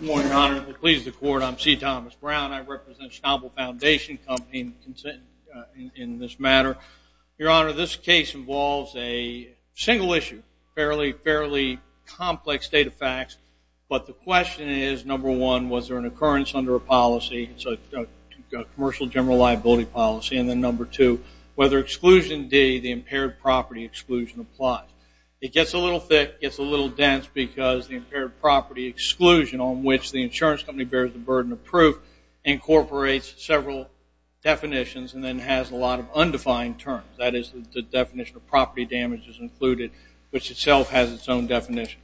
Good morning, Your Honor. If it pleases the Court, I'm C. Thomas Brown. I represent Schnabel Foundation Company in this matter. Your Honor, this case involves a single issue, fairly complex state of facts, but the question is number one, was there an occurrence under a policy, a commercial general liability policy, and then number two, whether Exclusion D, the impaired property exclusion applies. It gets a little thick, gets a little dense because the impaired property exclusion on which the insurance company bears the burden of proof incorporates several definitions and then has a lot of undefined terms. That is, the definition of property damage is included, which itself has its own definition.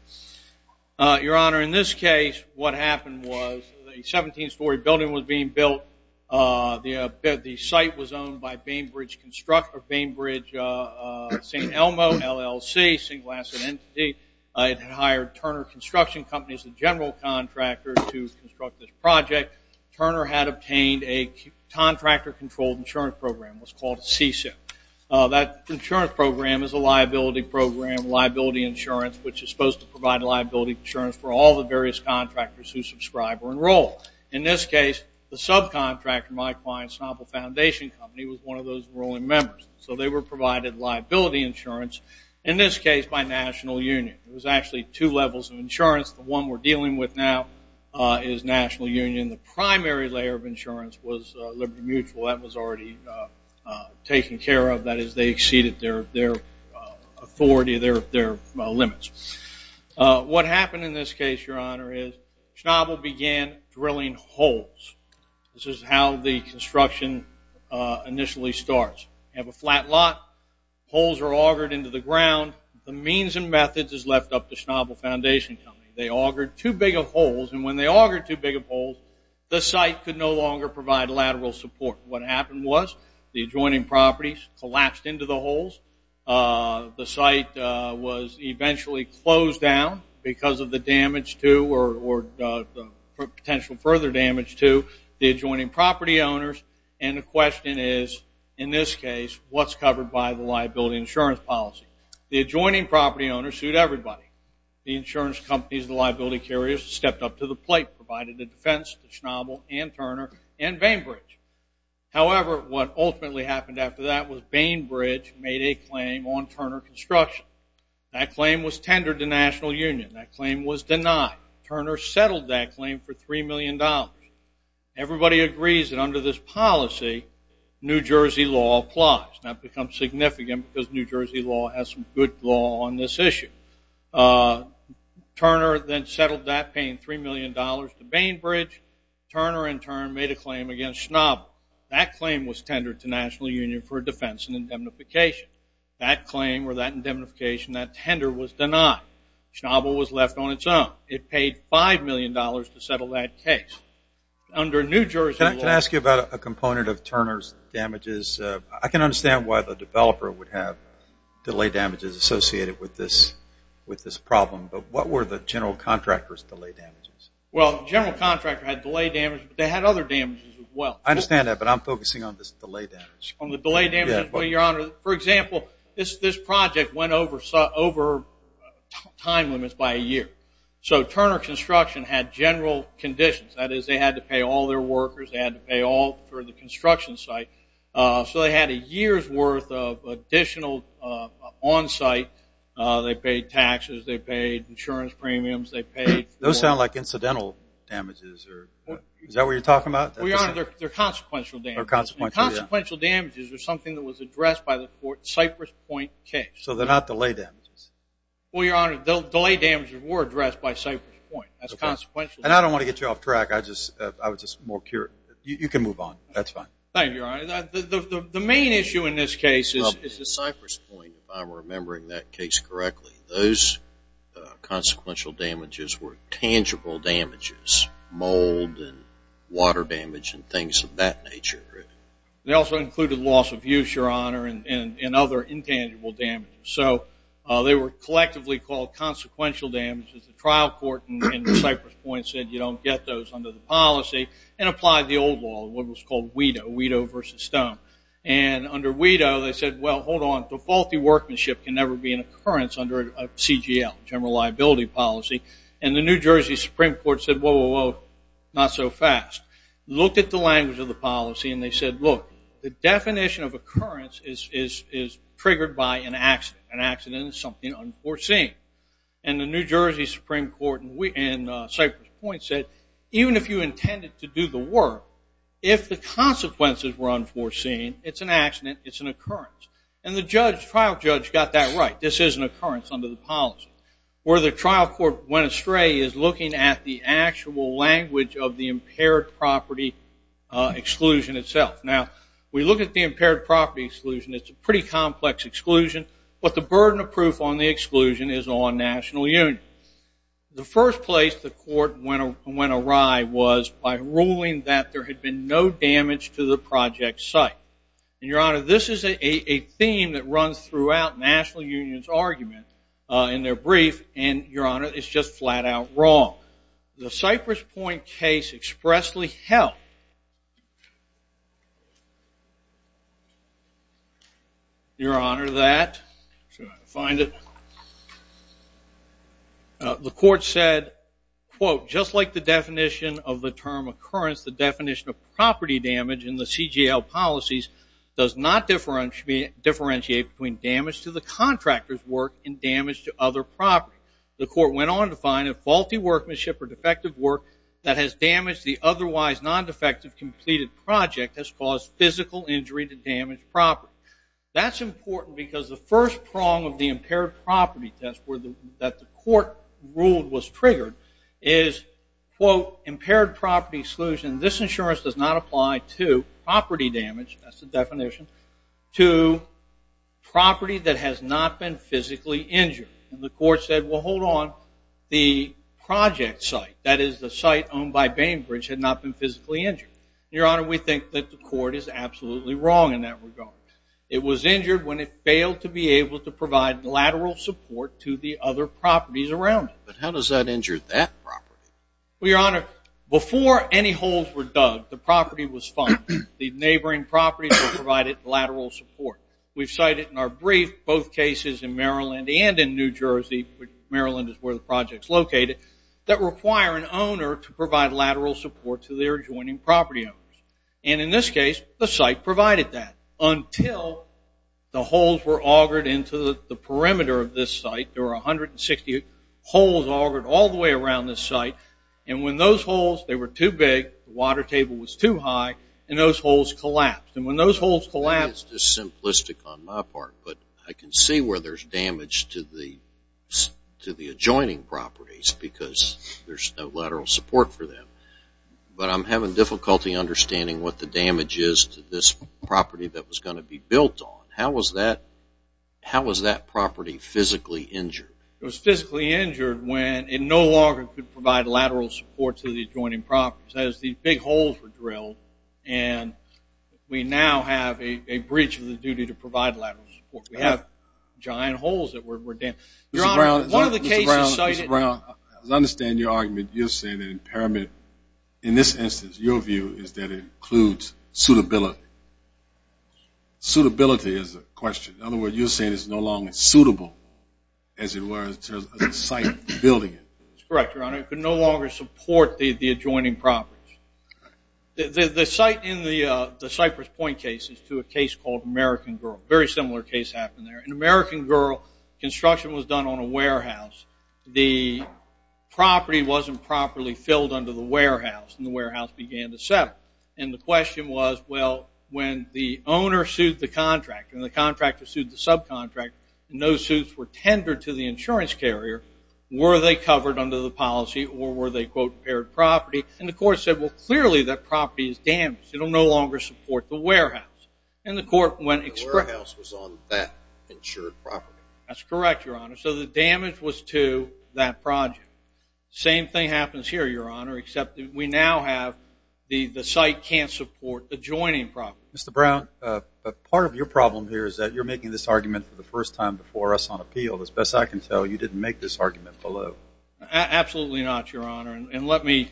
Your Honor, in this case, what happened was a 17-story building was being built. The site was owned by Bainbridge Construct, or Bainbridge St. Elmo LLC, a single asset entity. It had hired Turner Construction Company as the general contractor to construct this project. Turner had obtained a contractor-controlled insurance program. It was called CSIP. That insurance program is a liability program, liability insurance, which is supposed to provide liability insurance for all the various contractors who subscribe or enroll. In this case, the subcontractor, my client, Schnabel Foundation Company, was one of those enrolling members. So they were provided liability insurance, in this case by National Union. It was actually two levels of insurance. The one we're dealing with now is National Union. The primary layer of insurance was Liberty Mutual. That was already taken care of. That is, they exceeded their authority, their limits. What happened in this case, Your Honor, is Schnabel began drilling holes. This is how the construction initially starts. You have a flat lot. Holes are augured into the ground. The means and methods is left up to Schnabel Foundation Company. They augured too big of holes, and when they augured too big of holes, the site could no longer provide lateral support. What happened was the adjoining properties collapsed into the holes. The site was eventually closed down because of the damage to, or potential further damage to, the adjoining property owners. And the question is, in this case, what's covered by the liability insurance policy? The adjoining property owners sued everybody. The insurance companies, the liability carriers, stepped up to the plate, provided the defense to Schnabel and Turner and Bainbridge. However, what ultimately happened after that was Bainbridge made a claim on Turner Construction. That claim was tendered to National Union. That claim was denied. Turner settled that claim for $3 million. Everybody agrees that under this policy, New Jersey law applies. Now it becomes significant because New Jersey law has some good law on this issue. Turner then settled that, paying $3 million to Bainbridge. Turner in turn made a claim against Schnabel. That claim was tendered to National Union for defense and indemnification. That claim, or that indemnification, that tender was denied. Schnabel was left on its own. It paid $5 million to settle that case. Under New Jersey law... Can I ask you about a component of Turner's damages? I can understand why the developer would have delay damages associated with this problem, but what were the general contractor's delay damages? Well, the general contractor had delay damages, but they had other damages as well. I understand that, but I'm focusing on this delay damage. On the delay damages, your honor. For example, this project went over time limits by a year. So Turner Construction had general conditions. That is, they had to pay all their workers. They had to pay all for the construction site. So they had a year's worth of additional onsite. They paid taxes. They paid insurance premiums. Those sound like incidental damages. Is that what you're talking about? They're consequential damages. Consequential damages are something that was addressed by the Cypress Point case. So they're not delay damages? Well, your honor, delay damages were addressed by Cypress Point. That's consequential. And I don't want to get you off track. You can move on. That's fine. Thank you, your honor. The main issue in this case is the Cypress Point, if I'm remembering that case correctly. Those consequential damages were tangible damages. Mold and water damage and things of that nature. They also included loss of use, your honor, and other intangible damages. So they were collectively called consequential damages. The trial court in Cypress Point said you don't get those under the policy and applied the old law, what was called WIDO, WIDO versus Stone. And under WIDO, they said, well, hold on. The faulty workmanship can never be an occurrence under a CGL, general liability policy. And the New Jersey Supreme Court said, whoa, whoa, whoa, not so fast. Looked at the language of the policy and they said, look, the definition of triggered by an accident. An accident is something unforeseen. And the New Jersey Supreme Court in Cypress Point said, even if you intended to do the work, if the consequences were unforeseen, it's an accident, it's an occurrence. And the trial judge got that right. This is an occurrence under the policy. Where the trial court went astray is looking at the actual language of the impaired property exclusion itself. Now, we look at the impaired property exclusion. It's a pretty complex exclusion. But the burden of proof on the exclusion is on National Union. The first place the court went awry was by ruling that there had been no damage to the project site. And, Your Honor, this is a theme that runs throughout National Union's argument in their brief. And, Your Honor, it's just flat out wrong. The Cypress Point case expressly held Your Honor, that Your Honor, that The court said, quote, just like the definition of the term occurrence, the definition of property damage in the CGL policies does not differentiate between damage to the contractor's work and damage to other property. The court went on to find that faulty workmanship or defective work that has damaged the otherwise non-defective completed project has caused physical injury to damaged property. That's important because the first prong of the impaired property test that the court ruled was triggered is, quote, impaired property exclusion. This insurance does not apply to property damage. That's the definition. To property that has not been physically injured. And the court said, well, hold on. The project site, that is the site owned by Bainbridge, had not been physically injured. Your Honor, we think that the court is absolutely wrong in that regard. It was injured when it failed to be able to provide lateral support to the other properties around it. But how does that injure that property? Well, Your Honor, before any holes were dug, the property was funded. The neighboring properties were provided lateral support. We've cited in our brief both cases in Maryland and in New Jersey, which Maryland is where the project is located, that require an owner to provide lateral support to their adjoining property owners. And in this case, the site provided that until the holes were augured into the perimeter of this site. There were 160 holes augured all the way around this site. And when those holes, they were too big, the water table was too high, and those holes collapsed. And when those holes collapsed... That is just simplistic on my part, but I can see where there's damage to the adjoining properties because there's no lateral support for them. But I'm having difficulty understanding what the damage is to this property that was going to be built on. How was that property physically injured? It was physically injured when it no longer could provide lateral support to the adjoining properties. That is, these big holes were drilled and we now have a breach of the duty to provide lateral support. We have giant holes that were damaged. Mr. Brown, as I understand your argument, you're saying that in this instance, your view is that it includes suitability. Suitability is the question. In other words, you're saying it's no longer suitable as it was in terms of the site building it. That's correct, Your Honor. It could no longer support the adjoining properties. The site in the Cypress Point case is to a case called American Girl. A very similar case happened there. In American Girl, construction was done on a warehouse. The property wasn't properly filled under the warehouse and the warehouse began to settle. And the question was, well, when the owner sued the contractor and the contractor sued the subcontractor and those suits were tendered to the insurance carrier, were they covered under the policy or were they, quote, impaired property? And the court said, well, clearly that property is damaged. It will no longer support the warehouse. And the court went express... The warehouse was on that insured property. That's correct, Your Honor. So the damage was to that project. Same thing happens here, Your Honor, except that we now have the site can't support the adjoining property. Mr. Brown, part of your problem here is that you're making this argument for the first time before us on appeal. As best I can tell, you didn't make this argument below. Absolutely not, Your Honor. And let me...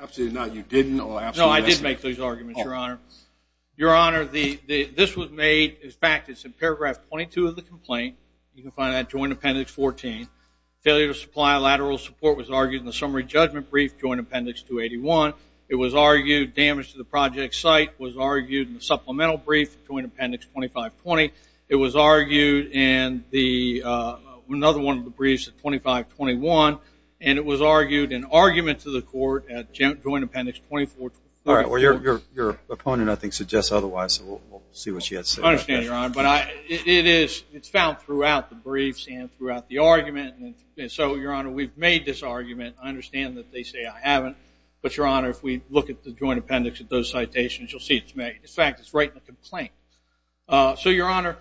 Absolutely not, you didn't. No, I did make those arguments, Your Honor. Your Honor, this was made, in fact, it's in paragraph 22 of the complaint. You can find that Joint Appendix 14. Failure to supply lateral support was argued in the summary judgment brief, Joint Appendix 281. It was argued damage to the project site was argued in the supplemental brief, Joint Appendix 2520. It was argued in the... another one of the briefs, 2521. And it was argued in argument to the court at Joint Appendix 2424. Your opponent, I think, suggests otherwise. We'll see what she has to say about that. I understand, Your Honor. But it's found throughout the briefs and throughout the argument. And so, Your Honor, we've made this argument. I understand that they say I haven't. But, Your Honor, if we look at the Joint Appendix, at those citations, you'll see it's made. In fact, it's right in the complaint. So, Your Honor,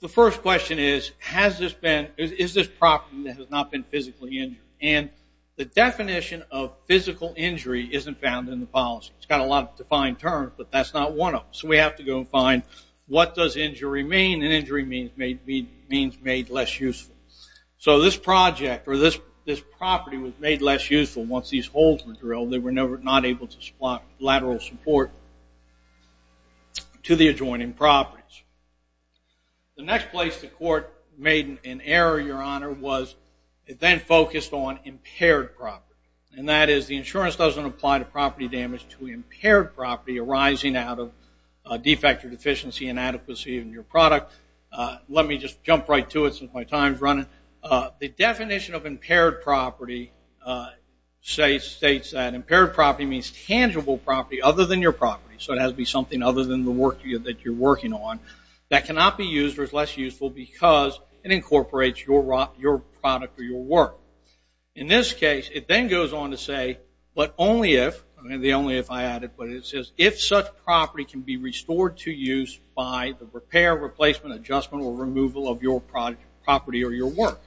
the first question is, has this been, is this property that has not been physically injured? And the definition of physical injury isn't found in the policy. It's got a lot of defined terms, but that's not one of them. So, we have to go find what does injury mean? And injury means made less useful. So, this project or this property was made less useful once these holes were drilled. They were not able to supply lateral support to the adjoining properties. The next place the court made an argument, Your Honor, was it then focused on impaired property. And that is the insurance doesn't apply to property damage to impaired property arising out of defect or deficiency inadequacy in your product. Let me just jump right to it since my time is running. The definition of impaired property states that impaired property means tangible property other than your property. So, it has to be something other than the work that you're working on that cannot be used or is less useful because it incorporates your product or your work. In this case, it then goes on to say, but only if, the only if I added, but it says, if such property can be restored to use by the repair, replacement, adjustment, or removal of your product, property, or your work.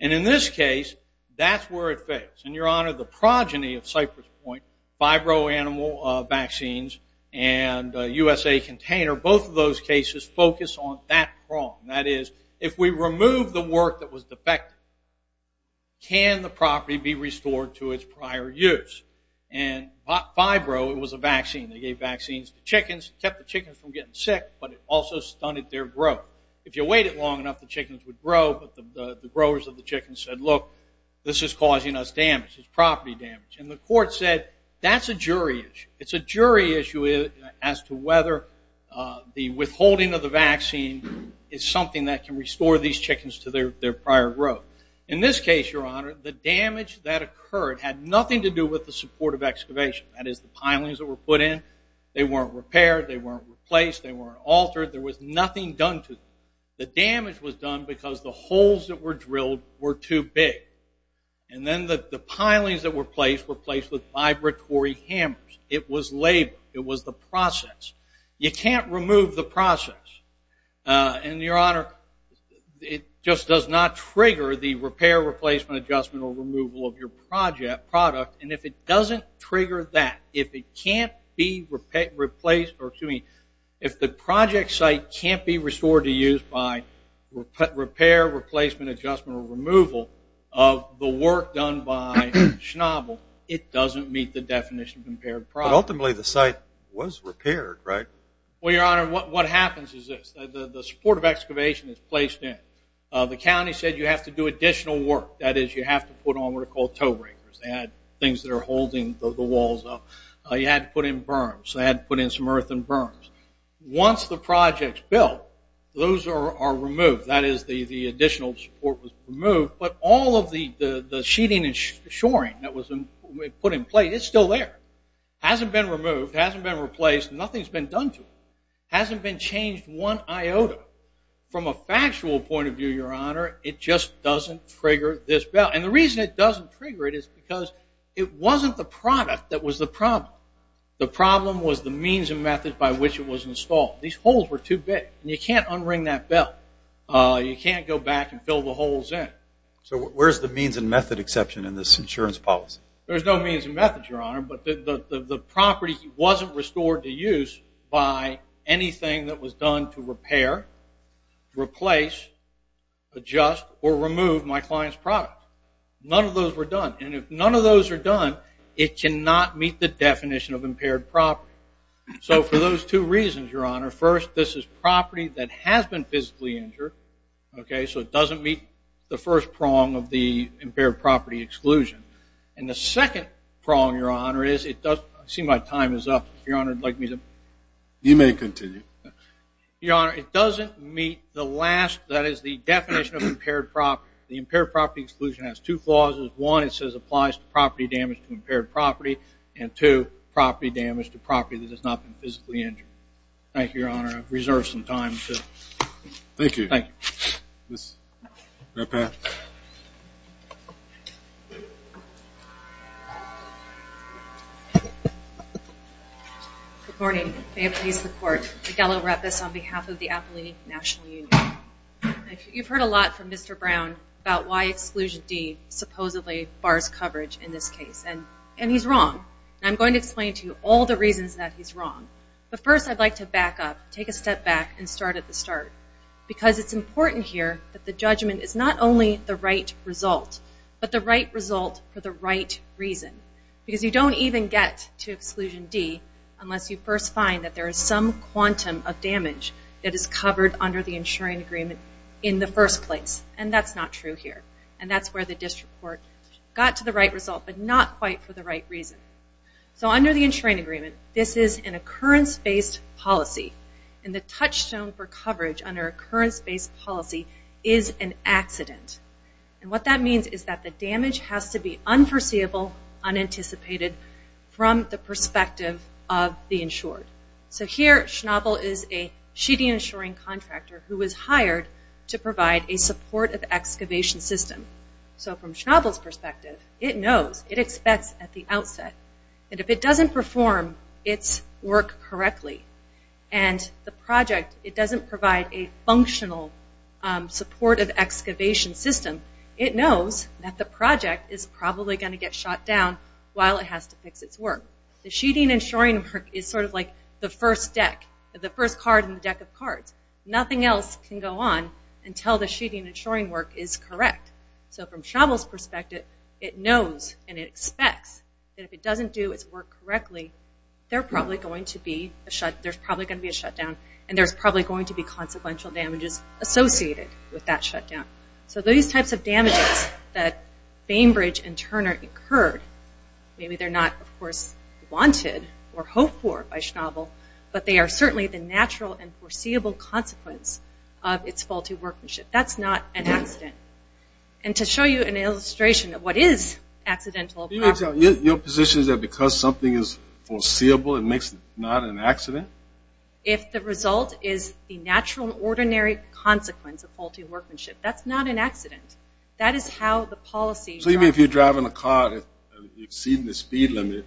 And in this case, that's where it fails. And, Your Honor, the progeny of Cypress Point, fibro-animal vaccines, and USA Container, both of those cases focus on that problem. That is, if we remove the work that was defective, can the property be restored to its prior use? And fibro, it was a vaccine. They gave vaccines to chickens. It kept the chickens from getting sick, but it also stunted their growth. If you waited long enough, the chickens would grow, but the growers of the chickens said, look, this is causing us damage. It's property damage. And the court said, that's a jury issue. It's a jury issue as to whether the withholding of the vaccine is something that can restore these chickens to their prior growth. In this case, Your Honor, the damage that occurred had nothing to do with the support of excavation. That is, the pilings that were put in. They weren't repaired. They weren't replaced. They weren't altered. There was nothing done to them. The damage was done because the holes that were drilled were too big. And then the pilings that were placed were placed with vibratory hammers. It was labor. It was the process. You can't remove the process. And, Your Honor, it just does not trigger the repair, replacement, adjustment, or removal of your product. And if it doesn't trigger that, if it can't be replaced, or excuse me, if the project site can't be restored to use by repair, replacement, adjustment, or removal of the work done by Schnabel, it doesn't meet the definition of impaired product. But ultimately the site was repaired, right? Well, Your Honor, what happens is this. The support of excavation is placed in. The county said you have to do additional work. That is, you have to put on what are called toe breakers. They had things that are holding the walls up. You had to put in berms. They had to put in some earth and berms. Once the project is built, those are removed. That is, the additional support was removed. But all of the sheeting and shoring that was put in place, it's still there. It hasn't been removed. It hasn't been replaced. Nothing's been done to it. It hasn't been changed one iota. From a factual point of view, Your Honor, it just doesn't trigger this bell. And the reason it doesn't trigger it is because it wasn't the product that was the problem. The problem was the means and methods by which it was installed. These holes were too big. And you can't unring that bell. You can't go back and fill the holes in. So where's the means and method exception in this insurance policy? There's no means and methods, Your Honor, but the property wasn't restored to use by anything that was done to repair, replace, adjust, or remove my client's product. None of those were done. And if none of those are done, it cannot meet the definition of impaired property. So for those two reasons, Your Honor, first, this is property that has been physically injured, so it doesn't meet the first prong of the impaired property exclusion. And the second prong, Your Honor, is it does... I see my time is up. Your Honor, would you like me to... You may continue. Your Honor, it doesn't meet the last, that is, the definition of impaired property. The impaired property exclusion has two clauses. One, it says applies to property damage to impaired property. And two, property damage to property that has not been physically injured. Thank you, Your Honor. I've reserved some time to... Thank you. Thank you. Ms. Repath. Good morning. May it please the Court. Miguel Repath on behalf of the Appalachian National Union. You've heard a lot from Mr. Brown about why Exclusion D supposedly bars coverage in this case. And he's wrong. And I'm going to explain to you all the reasons that he's wrong. But first, I'd like to back up, take a step back, and start at the start. Because it's important here that the judgment is not only the right result, but the right result for the right reason. Because you don't even get to Exclusion D unless you first find that there is some quantum of damage that is covered under the insuring agreement in the first place. And that's not true here. And that's where the district court got to the right result, but not quite for the right reason. So under the insuring agreement, this is an occurrence-based policy. And the touchstone for coverage under occurrence-based policy is an accident. And what that means is that the damage has to be unforeseeable, unanticipated, from the perspective of the insured. So here, Schnabel is a sheeting insuring contractor who was hired to provide a support of excavation system. So from Schnabel's perspective, it knows. It expects at the outset. And if it doesn't perform its work correctly and the project, it doesn't provide a functional support of excavation system, it knows that the project is probably going to get shot down while it has to fix its work. The sheeting insuring work is sort of like the first deck, the first card in the deck of cards. Nothing else can go on until the sheeting insuring work is correct. So from Schnabel's perspective, it knows and it expects that if it doesn't do its work correctly, there's probably going to be a shutdown and there's probably going to be consequential damages associated with that shutdown. So these types of damages that Bainbridge and Turner incurred, maybe they're not, of course, wanted or hoped for by Schnabel, but they are certainly the natural and foreseeable consequence of its faulty workmanship. That's not an accident. And to show you an illustration of what is an accidental process. Your position is that because something is foreseeable it makes it not an accident? If the result is the natural and ordinary consequence of faulty workmanship, that's not an accident. That is how the policy... So you mean if you're driving a car exceeding the speed limit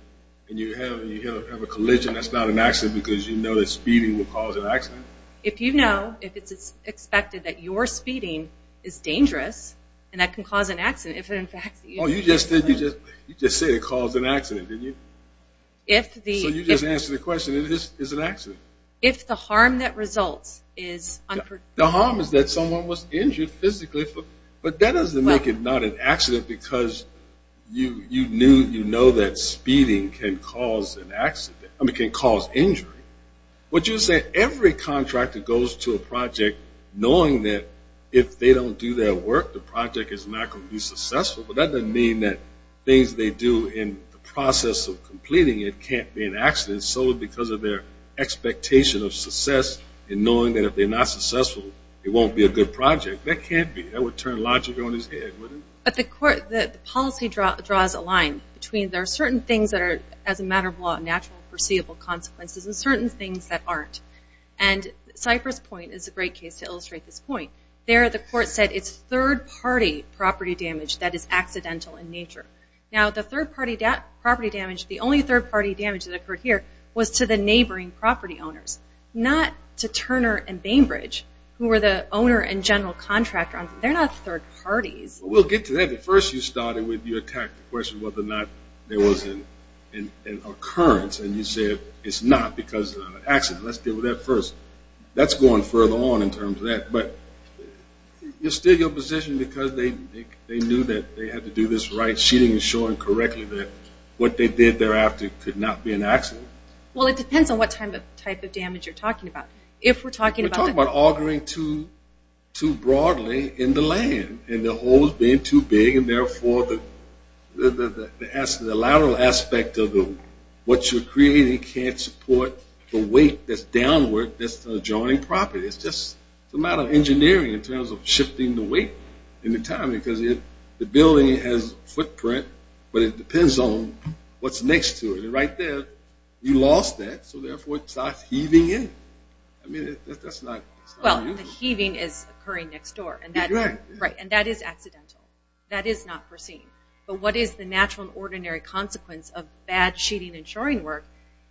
and you have a collision, that's not an accident because you know that speeding will cause an accident? If you know, if it's expected that your speeding is dangerous and that can cause an accident, you just said it caused an accident, didn't you? So you just answered the question, it is an accident. If the harm that results is unpredictable. The harm is that someone was injured physically, but that doesn't make it not an accident because you knew that speeding can cause an accident, I mean can cause injury. What you're saying, every contractor goes to a project knowing that if they don't do their work, the project is not going to be successful. Things they do in the process of completing it can't be an accident solely because of their expectation of success and knowing that if they're not successful, it won't be a good project. That can't be. That would turn logic on its head, wouldn't it? But the policy draws a line between there are certain things that are, as a matter of law, natural and foreseeable consequences and certain things that aren't. And Cypher's point is a great case to illustrate this point. There the court said it's third party property damage that is accidental in nature. Now the third party property damage, the only third party damage that occurred here, was to the neighboring property owners. Not to Turner and Bainbridge, who were the owner and general contractor. They're not third parties. We'll get to that, but first you started with your tactical question whether or not there was an occurrence and you said it's not because of an accident. Let's deal with that first. That's going further on in terms of that, but you're still in your position because they knew that they had to do this right, sheeting and shoring correctly, that what they did thereafter could not be an accident. Well, it depends on what type of damage you're talking about. If we're talking about... We're talking about augering too broadly in the land and the holes being too big and therefore the lateral aspect of what you're creating can't support the weight that's downward that's the adjoining property. It's just a matter of engineering in terms of shifting the weight in the time because the building has footprint, but it depends on what's next to it. Right there, you lost that, so therefore it starts heaving in. That's not usual. The heaving is occurring next door and that is accidental. That is not foreseen, but what is the natural and ordinary consequence of bad sheeting and shoring work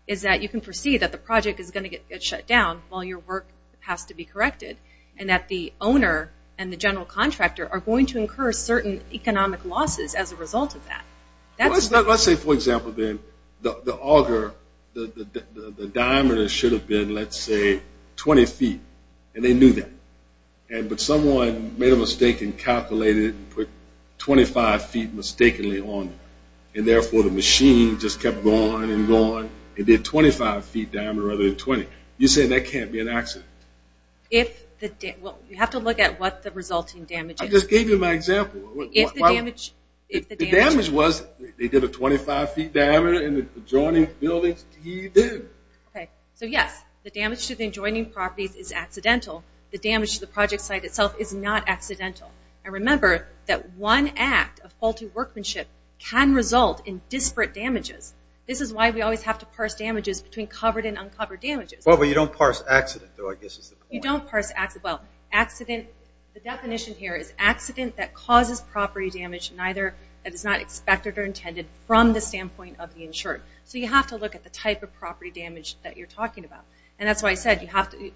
is that you can foresee that the project is going to get shut down while your work has to be corrected and that the owner and the general contractor are going to incur certain economic losses as a result of that. Let's say, for example, the auger the diameter should have been, let's say 20 feet and they knew that, but someone made a mistake and calculated and put 25 feet mistakenly on and therefore the machine just kept going and going and did a 25 feet diameter rather than 20. You're saying that can't be an accident? You have to look at what the resulting damage is. I just gave you my example. If the damage was they did a 25 feet diameter in the adjoining buildings, he did. So yes, the damage to the adjoining properties is accidental. The damage to the project site itself is not accidental. And remember that one act of faulty workmanship can result in disparate damages. This is why we always have to parse damages between covered and uncovered damages. Well, but you don't parse accident, though, I guess is the point. The definition here is accident that causes property damage that is not expected or intended from the standpoint of the insured. So you have to look at the type of property damage that you're talking about.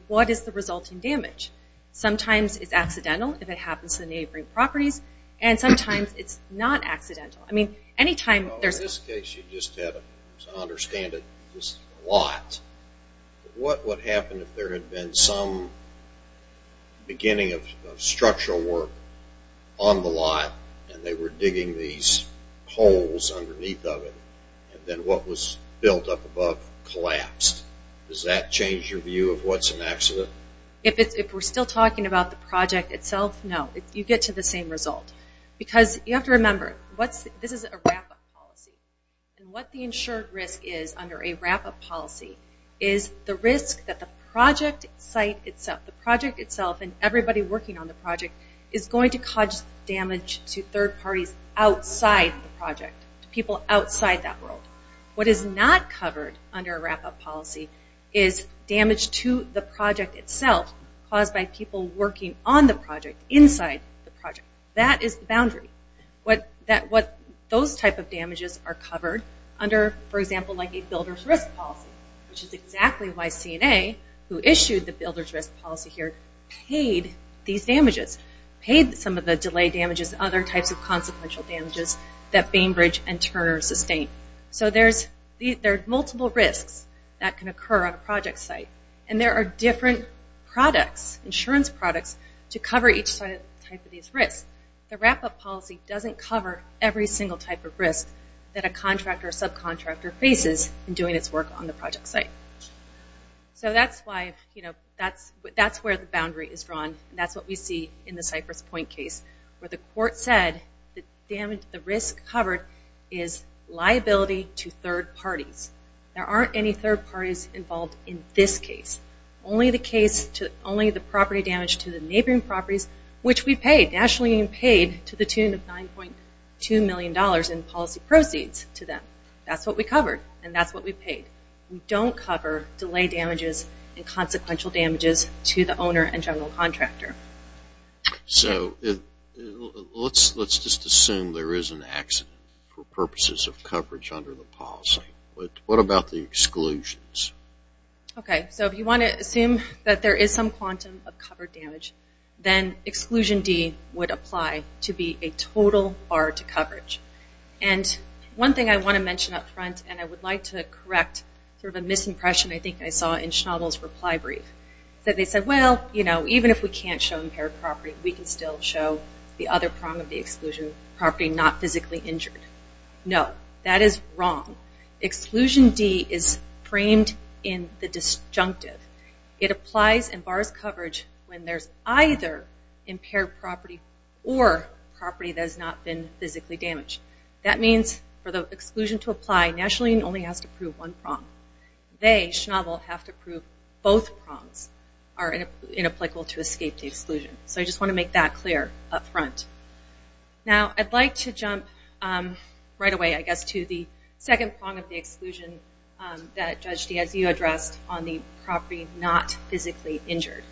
What is the resulting damage? Sometimes it's accidental if it happens to the neighboring properties, and sometimes it's not accidental. In this case, you just have to understand it. This is a lot. What would happen if there had been some beginning of structural work on the lot, and they were digging these holes underneath of it, and then what was built up above collapsed? Does that change your view of what's an accident? If we're still talking about the project itself, no. You get to the same result. Because you have to remember, this is a wrap-up policy. What the insured risk is under a wrap-up policy is the risk that the project site itself, the project itself and everybody working on the project, is going to cause damage to third parties outside the project, to people outside that world. What is not covered under a wrap-up policy is damage to the project itself caused by people working on the project inside the project. That is the boundary. Those type of damages are covered under, for example, like a builder's risk policy, which is exactly why CNA, who issued the builder's risk policy here, paid these damages, paid some of the delay damages and other types of consequential damages that Bainbridge and Turner sustained. There are multiple risks that can occur on a project site. There are different products, insurance products, to cover each type of these risks. The wrap-up policy doesn't cover every single type of risk that a contractor or subcontractor faces in doing its work on the project site. That's where the boundary is drawn. That's what we see in the Cypress Point case, where the court said the risk covered is liability to third parties. There aren't any third parties involved in this case. Only the property damage to the neighboring properties, which we paid, the National Union paid, to the tune of $9.2 million in policy proceeds to them. That's what we covered, and that's what we paid. We don't cover delay damages and consequential damages to the owner and general contractor. Let's just assume there is an accident for purposes of coverage under the policy. What about the exclusions? If you want to assume that there is some quantum of covered damage, then exclusion D would apply to be a total bar to coverage. One thing I want to mention up front, and I would like to correct a misimpression I think I saw in Schnabel's reply brief. They said, well, even if we can't show impaired property, we can still show the other prong of the exclusion property not physically injured. No, that is wrong. Exclusion D is framed in the disjunctive. It applies and bars coverage when there is either impaired property or property that has not been physically damaged. That means for the exclusion to apply, National Union only has to prove one prong. They, Schnabel, have to prove both prongs are inapplicable to escape the exclusion. I just want to make that clear up front. I'd like to jump right away, I guess, to the second prong of the exclusion that Judge Diazio addressed on the property not physically injured.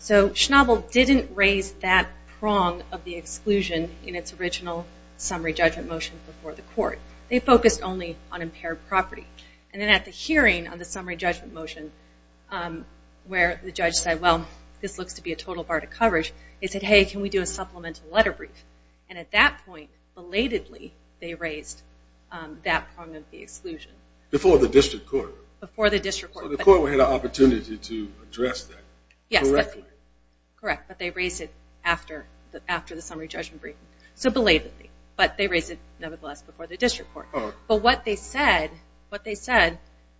Schnabel didn't raise that prong of the exclusion in its original summary judgment motion before the court. They focused only on impaired property. At the hearing on the summary judgment motion, where the judge said, well, this looks to be a total bar to coverage, they said, hey, can we do a supplemental letter brief? At that point, belatedly, they raised that prong of the exclusion. Before the district court? Before the district court. So the court had an opportunity to address that? Yes. Correct, but they raised it after the summary judgment brief. So belatedly. But they raised it, nevertheless, before the district court. But what they said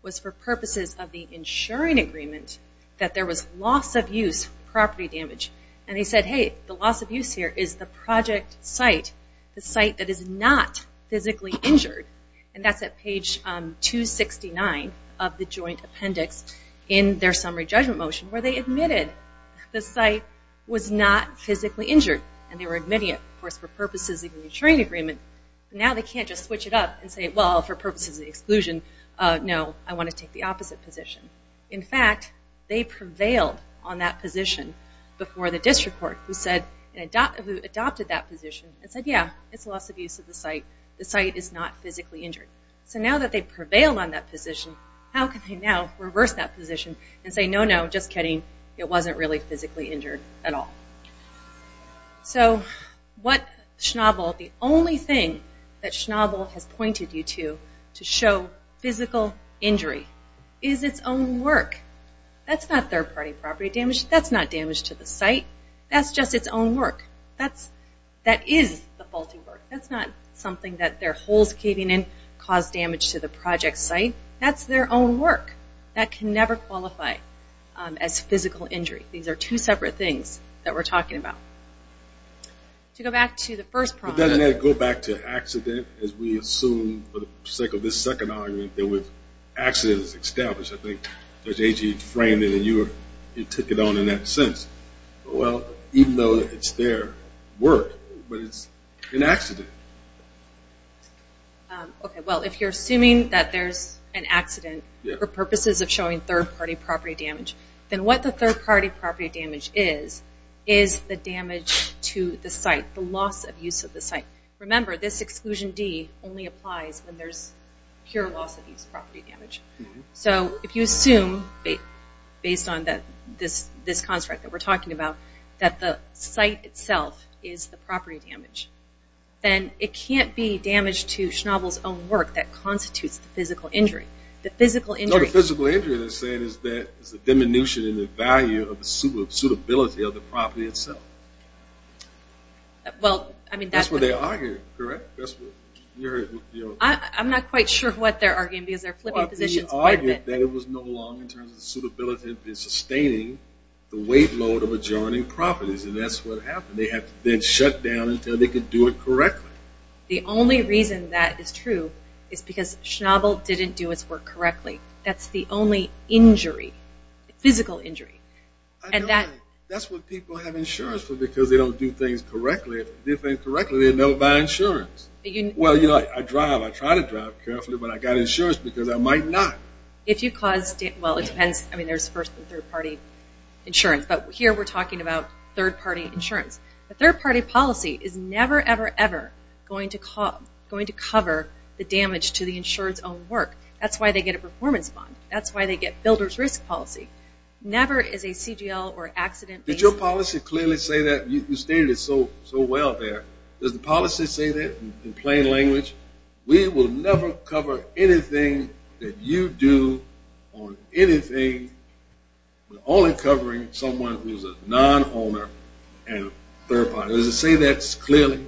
was for purposes of the insuring agreement the loss of use here is the project site, the site that is not physically injured. And that's at page 269 of the joint appendix in their summary judgment motion, where they admitted the site was not physically injured. And they were admitting it, of course, for purposes of the insuring agreement. Now they can't just switch it up and say, well, for purposes of the exclusion, no, I want to take the opposite position. In fact, they prevailed on that position before the district court, who adopted that position and said, yeah, it's loss of use of the site. The site is not physically injured. So now that they've prevailed on that position, how can they now reverse that position and say, no, no, just kidding, it wasn't really physically injured at all. So what Schnabel, the only thing that Schnabel has pointed you to to show physical injury is its own work. That's not third-party property damage. That's not damage to the site. That's just its own work. That is the faulty work. That's not something that their holes caving in caused damage to the project site. That's their own work. That can never qualify as physical injury. These are two separate things that we're talking about. To go back to the first problem... But doesn't that go back to accident, as we assume for the sake of this second argument, that with accidents established, I think Judge Agee framed it and you took it on in that sense. Well, even though it's their work, but it's an accident. Okay, well, if you're assuming that there's an accident for purposes of showing third-party property damage, then what the third-party property damage is, is the damage to the site, the loss of use of the site. Remember, this exclusion D only applies when there's pure loss of use property damage. So, if you assume, based on this construct that we're talking about, that the site itself is the property damage, then it can't be damage to Schnabel's own work that constitutes the physical injury. No, the physical injury they're saying is the diminution in the value of the suitability of the property itself. That's what they're arguing, correct? I'm not quite sure what they're arguing, because they're flipping positions quite a bit. Well, they argued that it was no longer in terms of the suitability of sustaining the weight load of adjoining properties, and that's what happened. They had to then shut down until they could do it correctly. The only reason that is true is because Schnabel didn't do his work correctly. That's the only injury, physical injury. That's what people have insurance for, because they don't do things correctly. They never buy insurance. Well, I drive. I try to drive carefully, but I got insurance because I might not. There's first and third party insurance, but here we're talking about third party insurance. A third party policy is never, ever, ever going to cover the damage to the insured's own work. That's why they get a performance bond. That's why they get builder's risk policy. Never is a CGL or accident... Did your policy clearly say that? You stated it so well there. Does the policy say that in plain language? We will never cover anything that you do on anything but only covering someone who's a non-owner and third party. Does it say that clearly?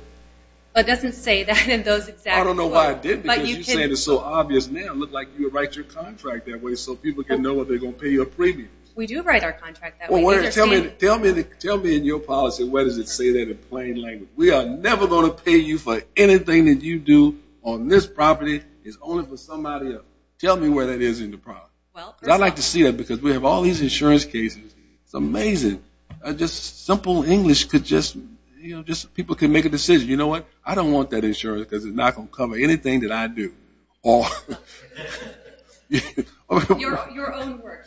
It doesn't say that in those exact words. I don't know why it didn't, because you said it's so obvious now. It looks like you write your contract that way so people can know if they're going to pay you a premium. We do write our contract that way. Tell me in your policy, where does it say that in plain language? We are never going to pay you for anything that you do on this property. It's only for somebody else. Tell me where that is in the prop. I like to see that because we have all these insurance cases. It's amazing. Simple English, people can make a decision. You know what? I don't want that insurance because it's not going to cover anything that I do. Your own work.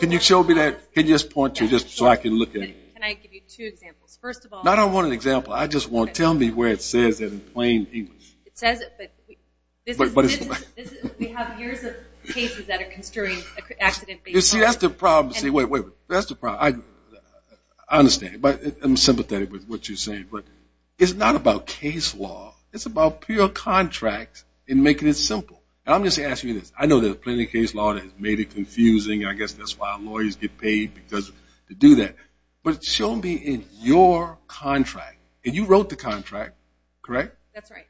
Can you show me that? Can you just point to it so I can look at it? Can I give you two examples? First of all... I don't want an example. I just want tell me where it says that in plain English. We have years of cases that are construing accident-based... That's the problem. I understand. I'm sympathetic with what you're saying, but it's not about case law. It's about pure contract and making it simple. I'm just asking you this. I know there's plenty of case law that has made it confusing. I guess that's why lawyers get paid to do that. Show me in your contract. You wrote the contract, correct? That's right.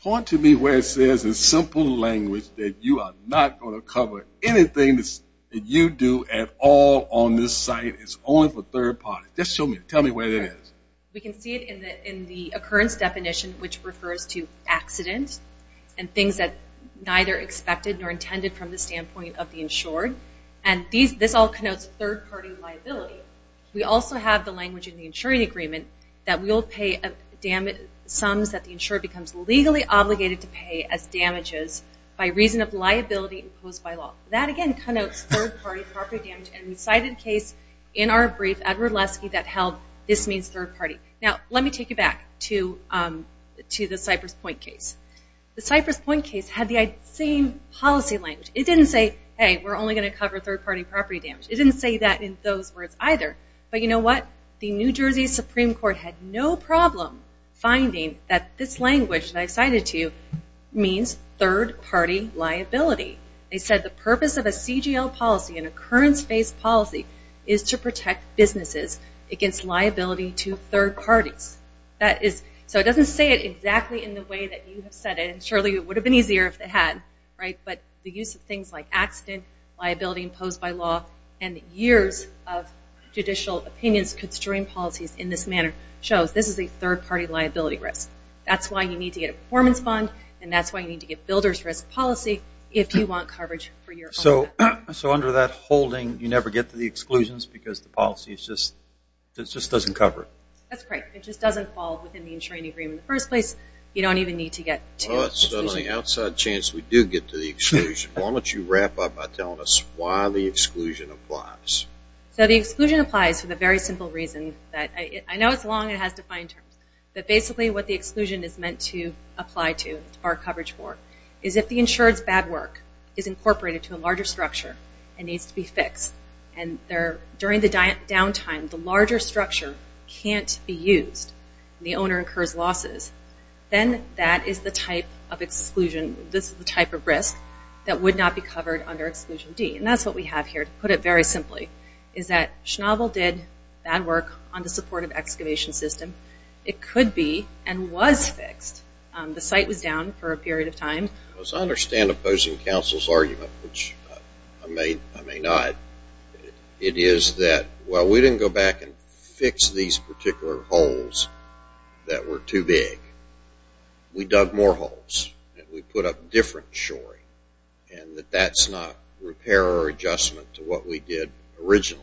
Point to me where it says in simple language that you are not going to cover anything that you do at all on this site. It's only for third parties. Tell me where it is. We can see it in the occurrence definition, which refers to accident and things that are neither expected nor intended from the standpoint of the insured. This all connotes third-party liability. We also have the language in the insuring agreement that we'll pay sums that the insured becomes legally obligated to pay as damages by reason of liability imposed by law. That again connotes third-party property damage. We cited a case in our brief, Edward Lesky, that held this means third-party. Let me take you back to the Cypress Point case. The Cypress Point case had the same policy language. It didn't say, hey, we're only going to cover third-party property damage. It didn't say that in those words either. But you know what? The New Jersey Supreme Court had no problem finding that this language that I cited to you means third-party liability. They said the purpose of a CGL policy, an occurrence-based policy, is to protect businesses against liability to third parties. So it doesn't say it exactly in the way that you have said it. Surely it would have been easier if it had. But the use of things like accident, liability imposed by law, and years of judicial opinions constrained policies in this manner shows this is a third-party liability risk. That's why you need to get a performance bond, and that's why you need to get builder's risk policy if you want coverage for your own benefit. So under that holding, you never get to the exclusions because the policy just doesn't cover it? That's correct. It just doesn't fall within the insuring agreement in the first place. You don't even need to get to the exclusion. Why don't you wrap up by telling us why the exclusion applies? So the exclusion applies for the very simple reason that I know it's long and it has defined terms, but basically what the exclusion is meant to cover coverage for is if the insured's bad work is incorporated to a larger structure and needs to be fixed, and during the downtime, the larger structure can't be used, and the owner incurs losses, then that is the type of exclusion, this is the type of risk that would not be covered under Exclusion D. And that's what we have here, to put it very simply, is that Schnabel did bad work on the supportive excavation system. It could be and was fixed. The site was down for a period of time. As I understand opposing counsel's argument, which I may or may not, it is that while we didn't go back and fix these particular holes that were too big, we dug more holes, and we put up different shoring, and that that's not repair or adjustment to what we did originally.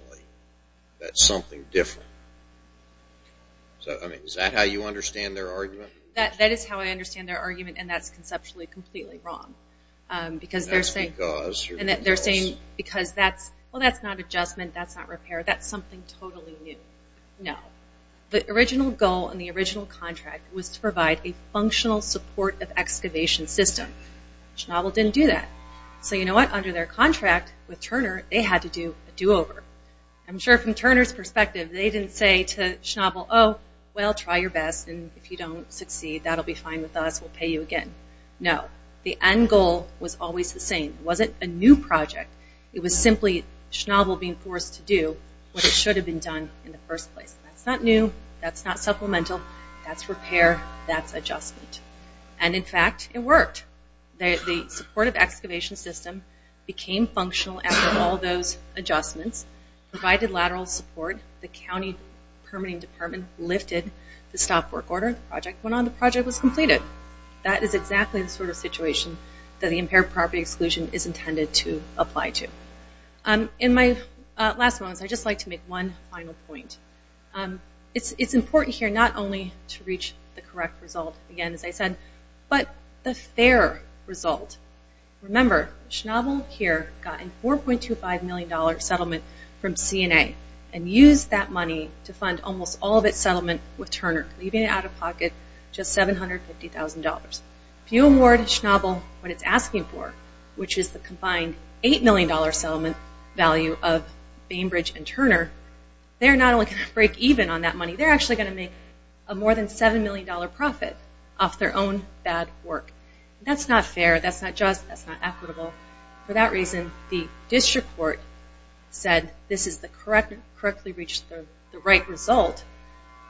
That's something different. Is that how you understand their argument? That is how I understand their argument, and that's conceptually completely wrong. Because they're saying, well that's not adjustment, that's not repair, that's something totally new. No. The original goal and the original contract was to provide a functional support of excavation system. Schnabel didn't do that. So you know what, under their contract with Turner, they had to do a do-over. I'm sure from Turner's perspective, they didn't say to Schnabel, well try your best, and if you don't succeed, that'll be fine with us, we'll pay you again. No. The end goal was always the same. It wasn't a new project. It was simply Schnabel being forced to do what it should have been done in the first place. That's not new, that's not supplemental, that's repair, that's adjustment. And in fact, it worked. The supportive excavation system became functional after all those adjustments, provided lateral support, the county permitting department lifted the stop work order, the project went on, the project was completed. That is exactly the sort of situation that the impaired property exclusion is intended to apply to. In my last moments, I'd just like to make one final point. It's important here not only to reach the correct result, again as I said, but the fair result. Remember, Schnabel here got a $4.25 million settlement from CNA and used that money to fund almost all of its settlement with Turner, leaving it out of pocket, just $750,000. If you award Schnabel what it's asking for, which is the combined $8 million settlement value of Bainbridge and Turner, they're not only going to break even on that money, they're actually going to make a more than $7 million profit off their own bad work. That's not fair, that's not just, that's not equitable. For that reason, the district court said this is the correctly reached, the right result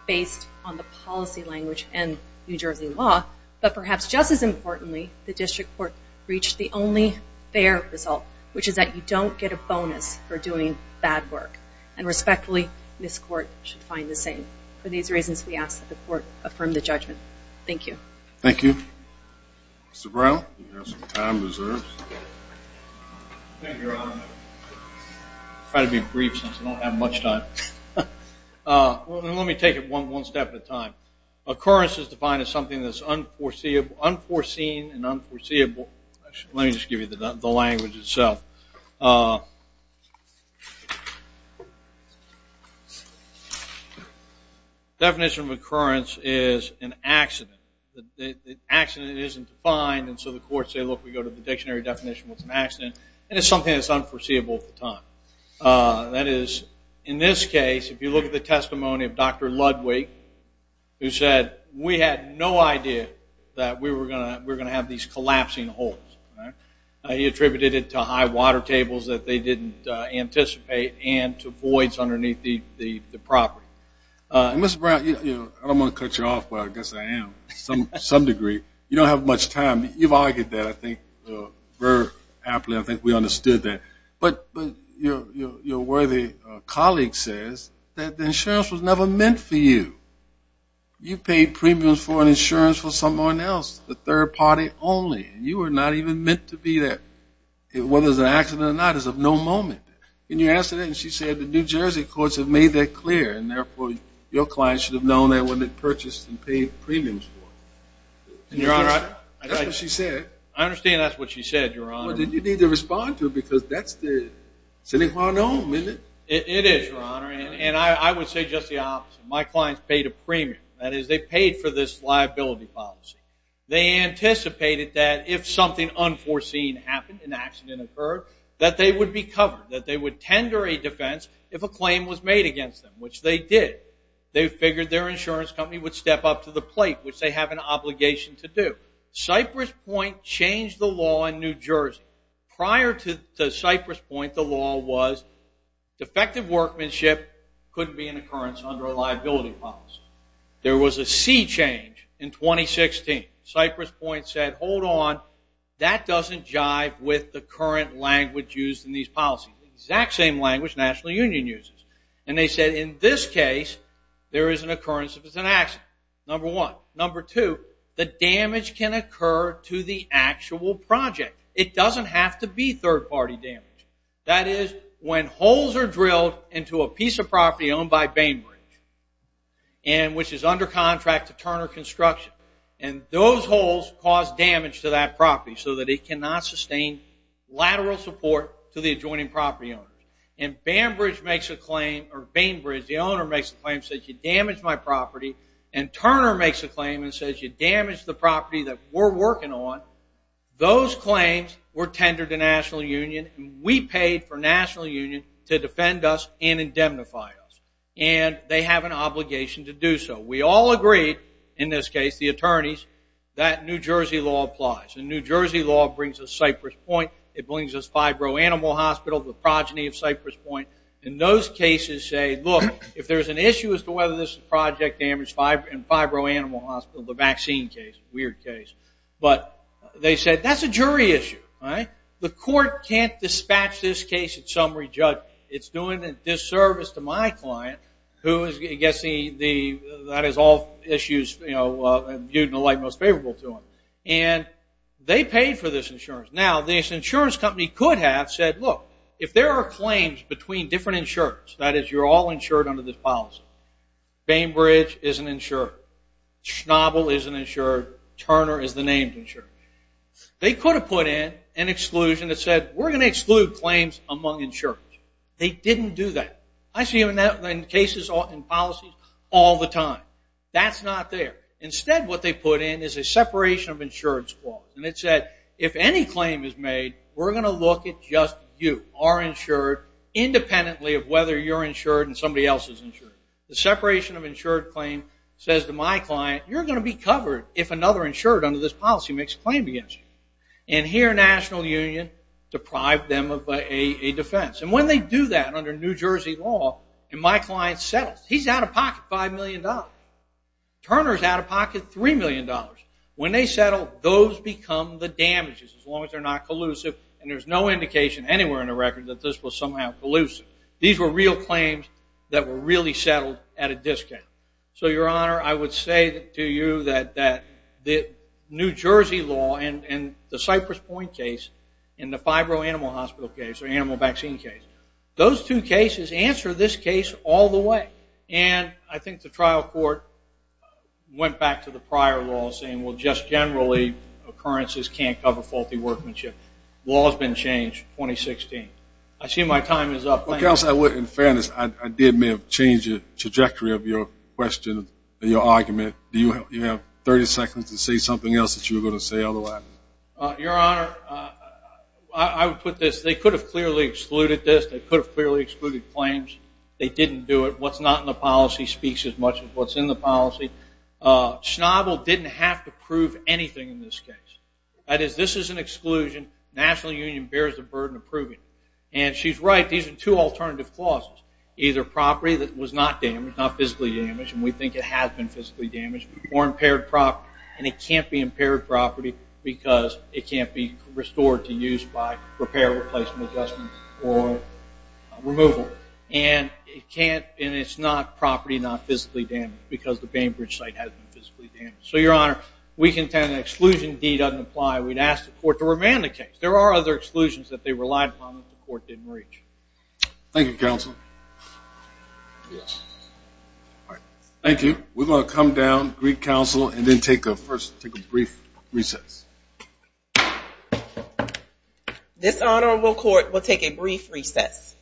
based on the policy language and New Jersey law, but perhaps just as importantly, the district court reached the only fair result, which is that you don't get a bonus for doing bad work. And respectfully, this court should find the same. For these reasons, we ask that the court affirm the judgment. Thank you. Let me take it one step at a time. Occurrence is defined as something that's unforeseen and unforeseeable. Let me just give you the language itself. Definition of occurrence is an accident. The accident isn't defined, and so the courts say, look, we go to the dictionary definition of what's an accident, and it's something that's unforeseeable at the time. That is, in this case, if you look at the testimony of Dr. Ludwig, who said, we had no idea that we were going to have these collapsing holes. He attributed it to high water tables that they didn't anticipate and to voids underneath the property. Mr. Brown, I don't want to cut you off, but I guess I am to some degree. You don't have much time. You've argued that, I think, very aptly. I think we understood that. But your worthy colleague says that the insurance was never meant for you. You paid premiums for an insurance for someone else, the insurance wasn't even meant to be there. Whether it was an accident or not is of no moment. When you asked her that, and she said, the New Jersey courts have made that clear, and therefore your client should have known that when they purchased and paid premiums for it. That's what she said. I understand that's what she said, Your Honor. Well, then you need to respond to it, because that's the sine qua non, isn't it? It is, Your Honor, and I would say just the opposite. My clients paid a premium. That is, they paid for this liability policy. They anticipated that if something unforeseen happened, an accident occurred, that they would be covered, that they would tender a defense if a claim was made against them, which they did. They figured their insurance company would step up to the plate, which they have an obligation to do. Cypress Point changed the law in New Jersey. Prior to Cypress Point, the law was defective workmanship couldn't be an occurrence under a liability policy. There was a sea change in 2016. Cypress Point said, hold on, that doesn't jive with the current language used in these policies. The exact same language the National Union uses. And they said, in this case, there is an occurrence if it's an accident, number one. Number two, the damage can occur to the actual project. It doesn't have to be third-party damage. That is, when holes are drilled into a piece of property owned by Bainbridge, which is under contract to Turner Construction. Those holes cause damage to that property so that it cannot sustain lateral support to the adjoining property owner. Bainbridge, the owner, makes a claim and says, you damaged my property. And Turner makes a claim and says, you damaged the property that we're working on. Those claims were tendered to National Union. We paid for National Union to defend us and have an obligation to do so. We all agreed, in this case, the attorneys, that New Jersey law applies. And New Jersey law brings us Cypress Point. It brings us Fibro-Animal Hospital, the progeny of Cypress Point. And those cases say, look, if there's an issue as to whether this is project damage and Fibro-Animal Hospital, the vaccine case, weird case. But they said, that's a jury issue. The court can't dispatch this case at summary judge. It's doing a disservice to my client, who is, I guess, that is all issues viewed in a light most favorable to him. And they paid for this insurance. Now, this insurance company could have said, look, if there are claims between different insurers, that is, you're all insured under this policy. Bainbridge is an insurer. Schnabel is an insurer. Turner is the named insurer. They could have put in an exclusion that said, we're going to exclude claims among insurers. They didn't do that. I see them in cases and policies all the time. That's not there. Instead, what they put in is a separation of insurance clause. And it said, if any claim is made, we're going to look at just you, are insured independently of whether you're insured and somebody else is insured. The separation of insured claim says to my client, you're going to be covered if another insured under this policy makes a claim against you. And here, National Union deprived them of a defense. And when they do that under New Jersey law, and my client settles, he's out of pocket $5 million. Turner is out of pocket $3 million. When they settle, those become the damages, as long as they're not collusive. And there's no indication anywhere in the record that this was somehow collusive. These were real claims that were really settled at a discount. So, Your Honor, I would say to you that the New Jersey law and the Cypress Point case and the fibro-animal hospital case, or animal vaccine case, those two cases answer this case all the way. And I think the trial court went back to the prior law saying, well, just generally, occurrences can't cover faulty workmanship. Law has been changed, 2016. I see my time is up. Thank you. In fairness, I did may have changed the trajectory of your question and your argument. Do you have 30 seconds to say something else that you were going to say before the last? Your Honor, I would put this. They could have clearly excluded this. They could have clearly excluded claims. They didn't do it. What's not in the policy speaks as much as what's in the policy. Schnabel didn't have to prove anything in this case. That is, this is an exclusion. National Union bears the burden of proving it. And she's right. These are two alternative clauses. Either property that was not damaged, not physically damaged, and we think it has been physically damaged, or impaired property, and it can't be impaired property because it can't be restored to use by repair, replacement, adjustment, or removal. And it can't, and it's not property not physically damaged because the Bainbridge site hasn't been physically damaged. So, Your Honor, we contend an exclusion deed doesn't apply. We'd ask the court to remand the case. There are other exclusions that they relied upon that the court didn't reach. Thank you, Counsel. Yes. Thank you. We're going to come down, greet Counsel, and then take a brief recess. This Honorable Court will take a brief recess.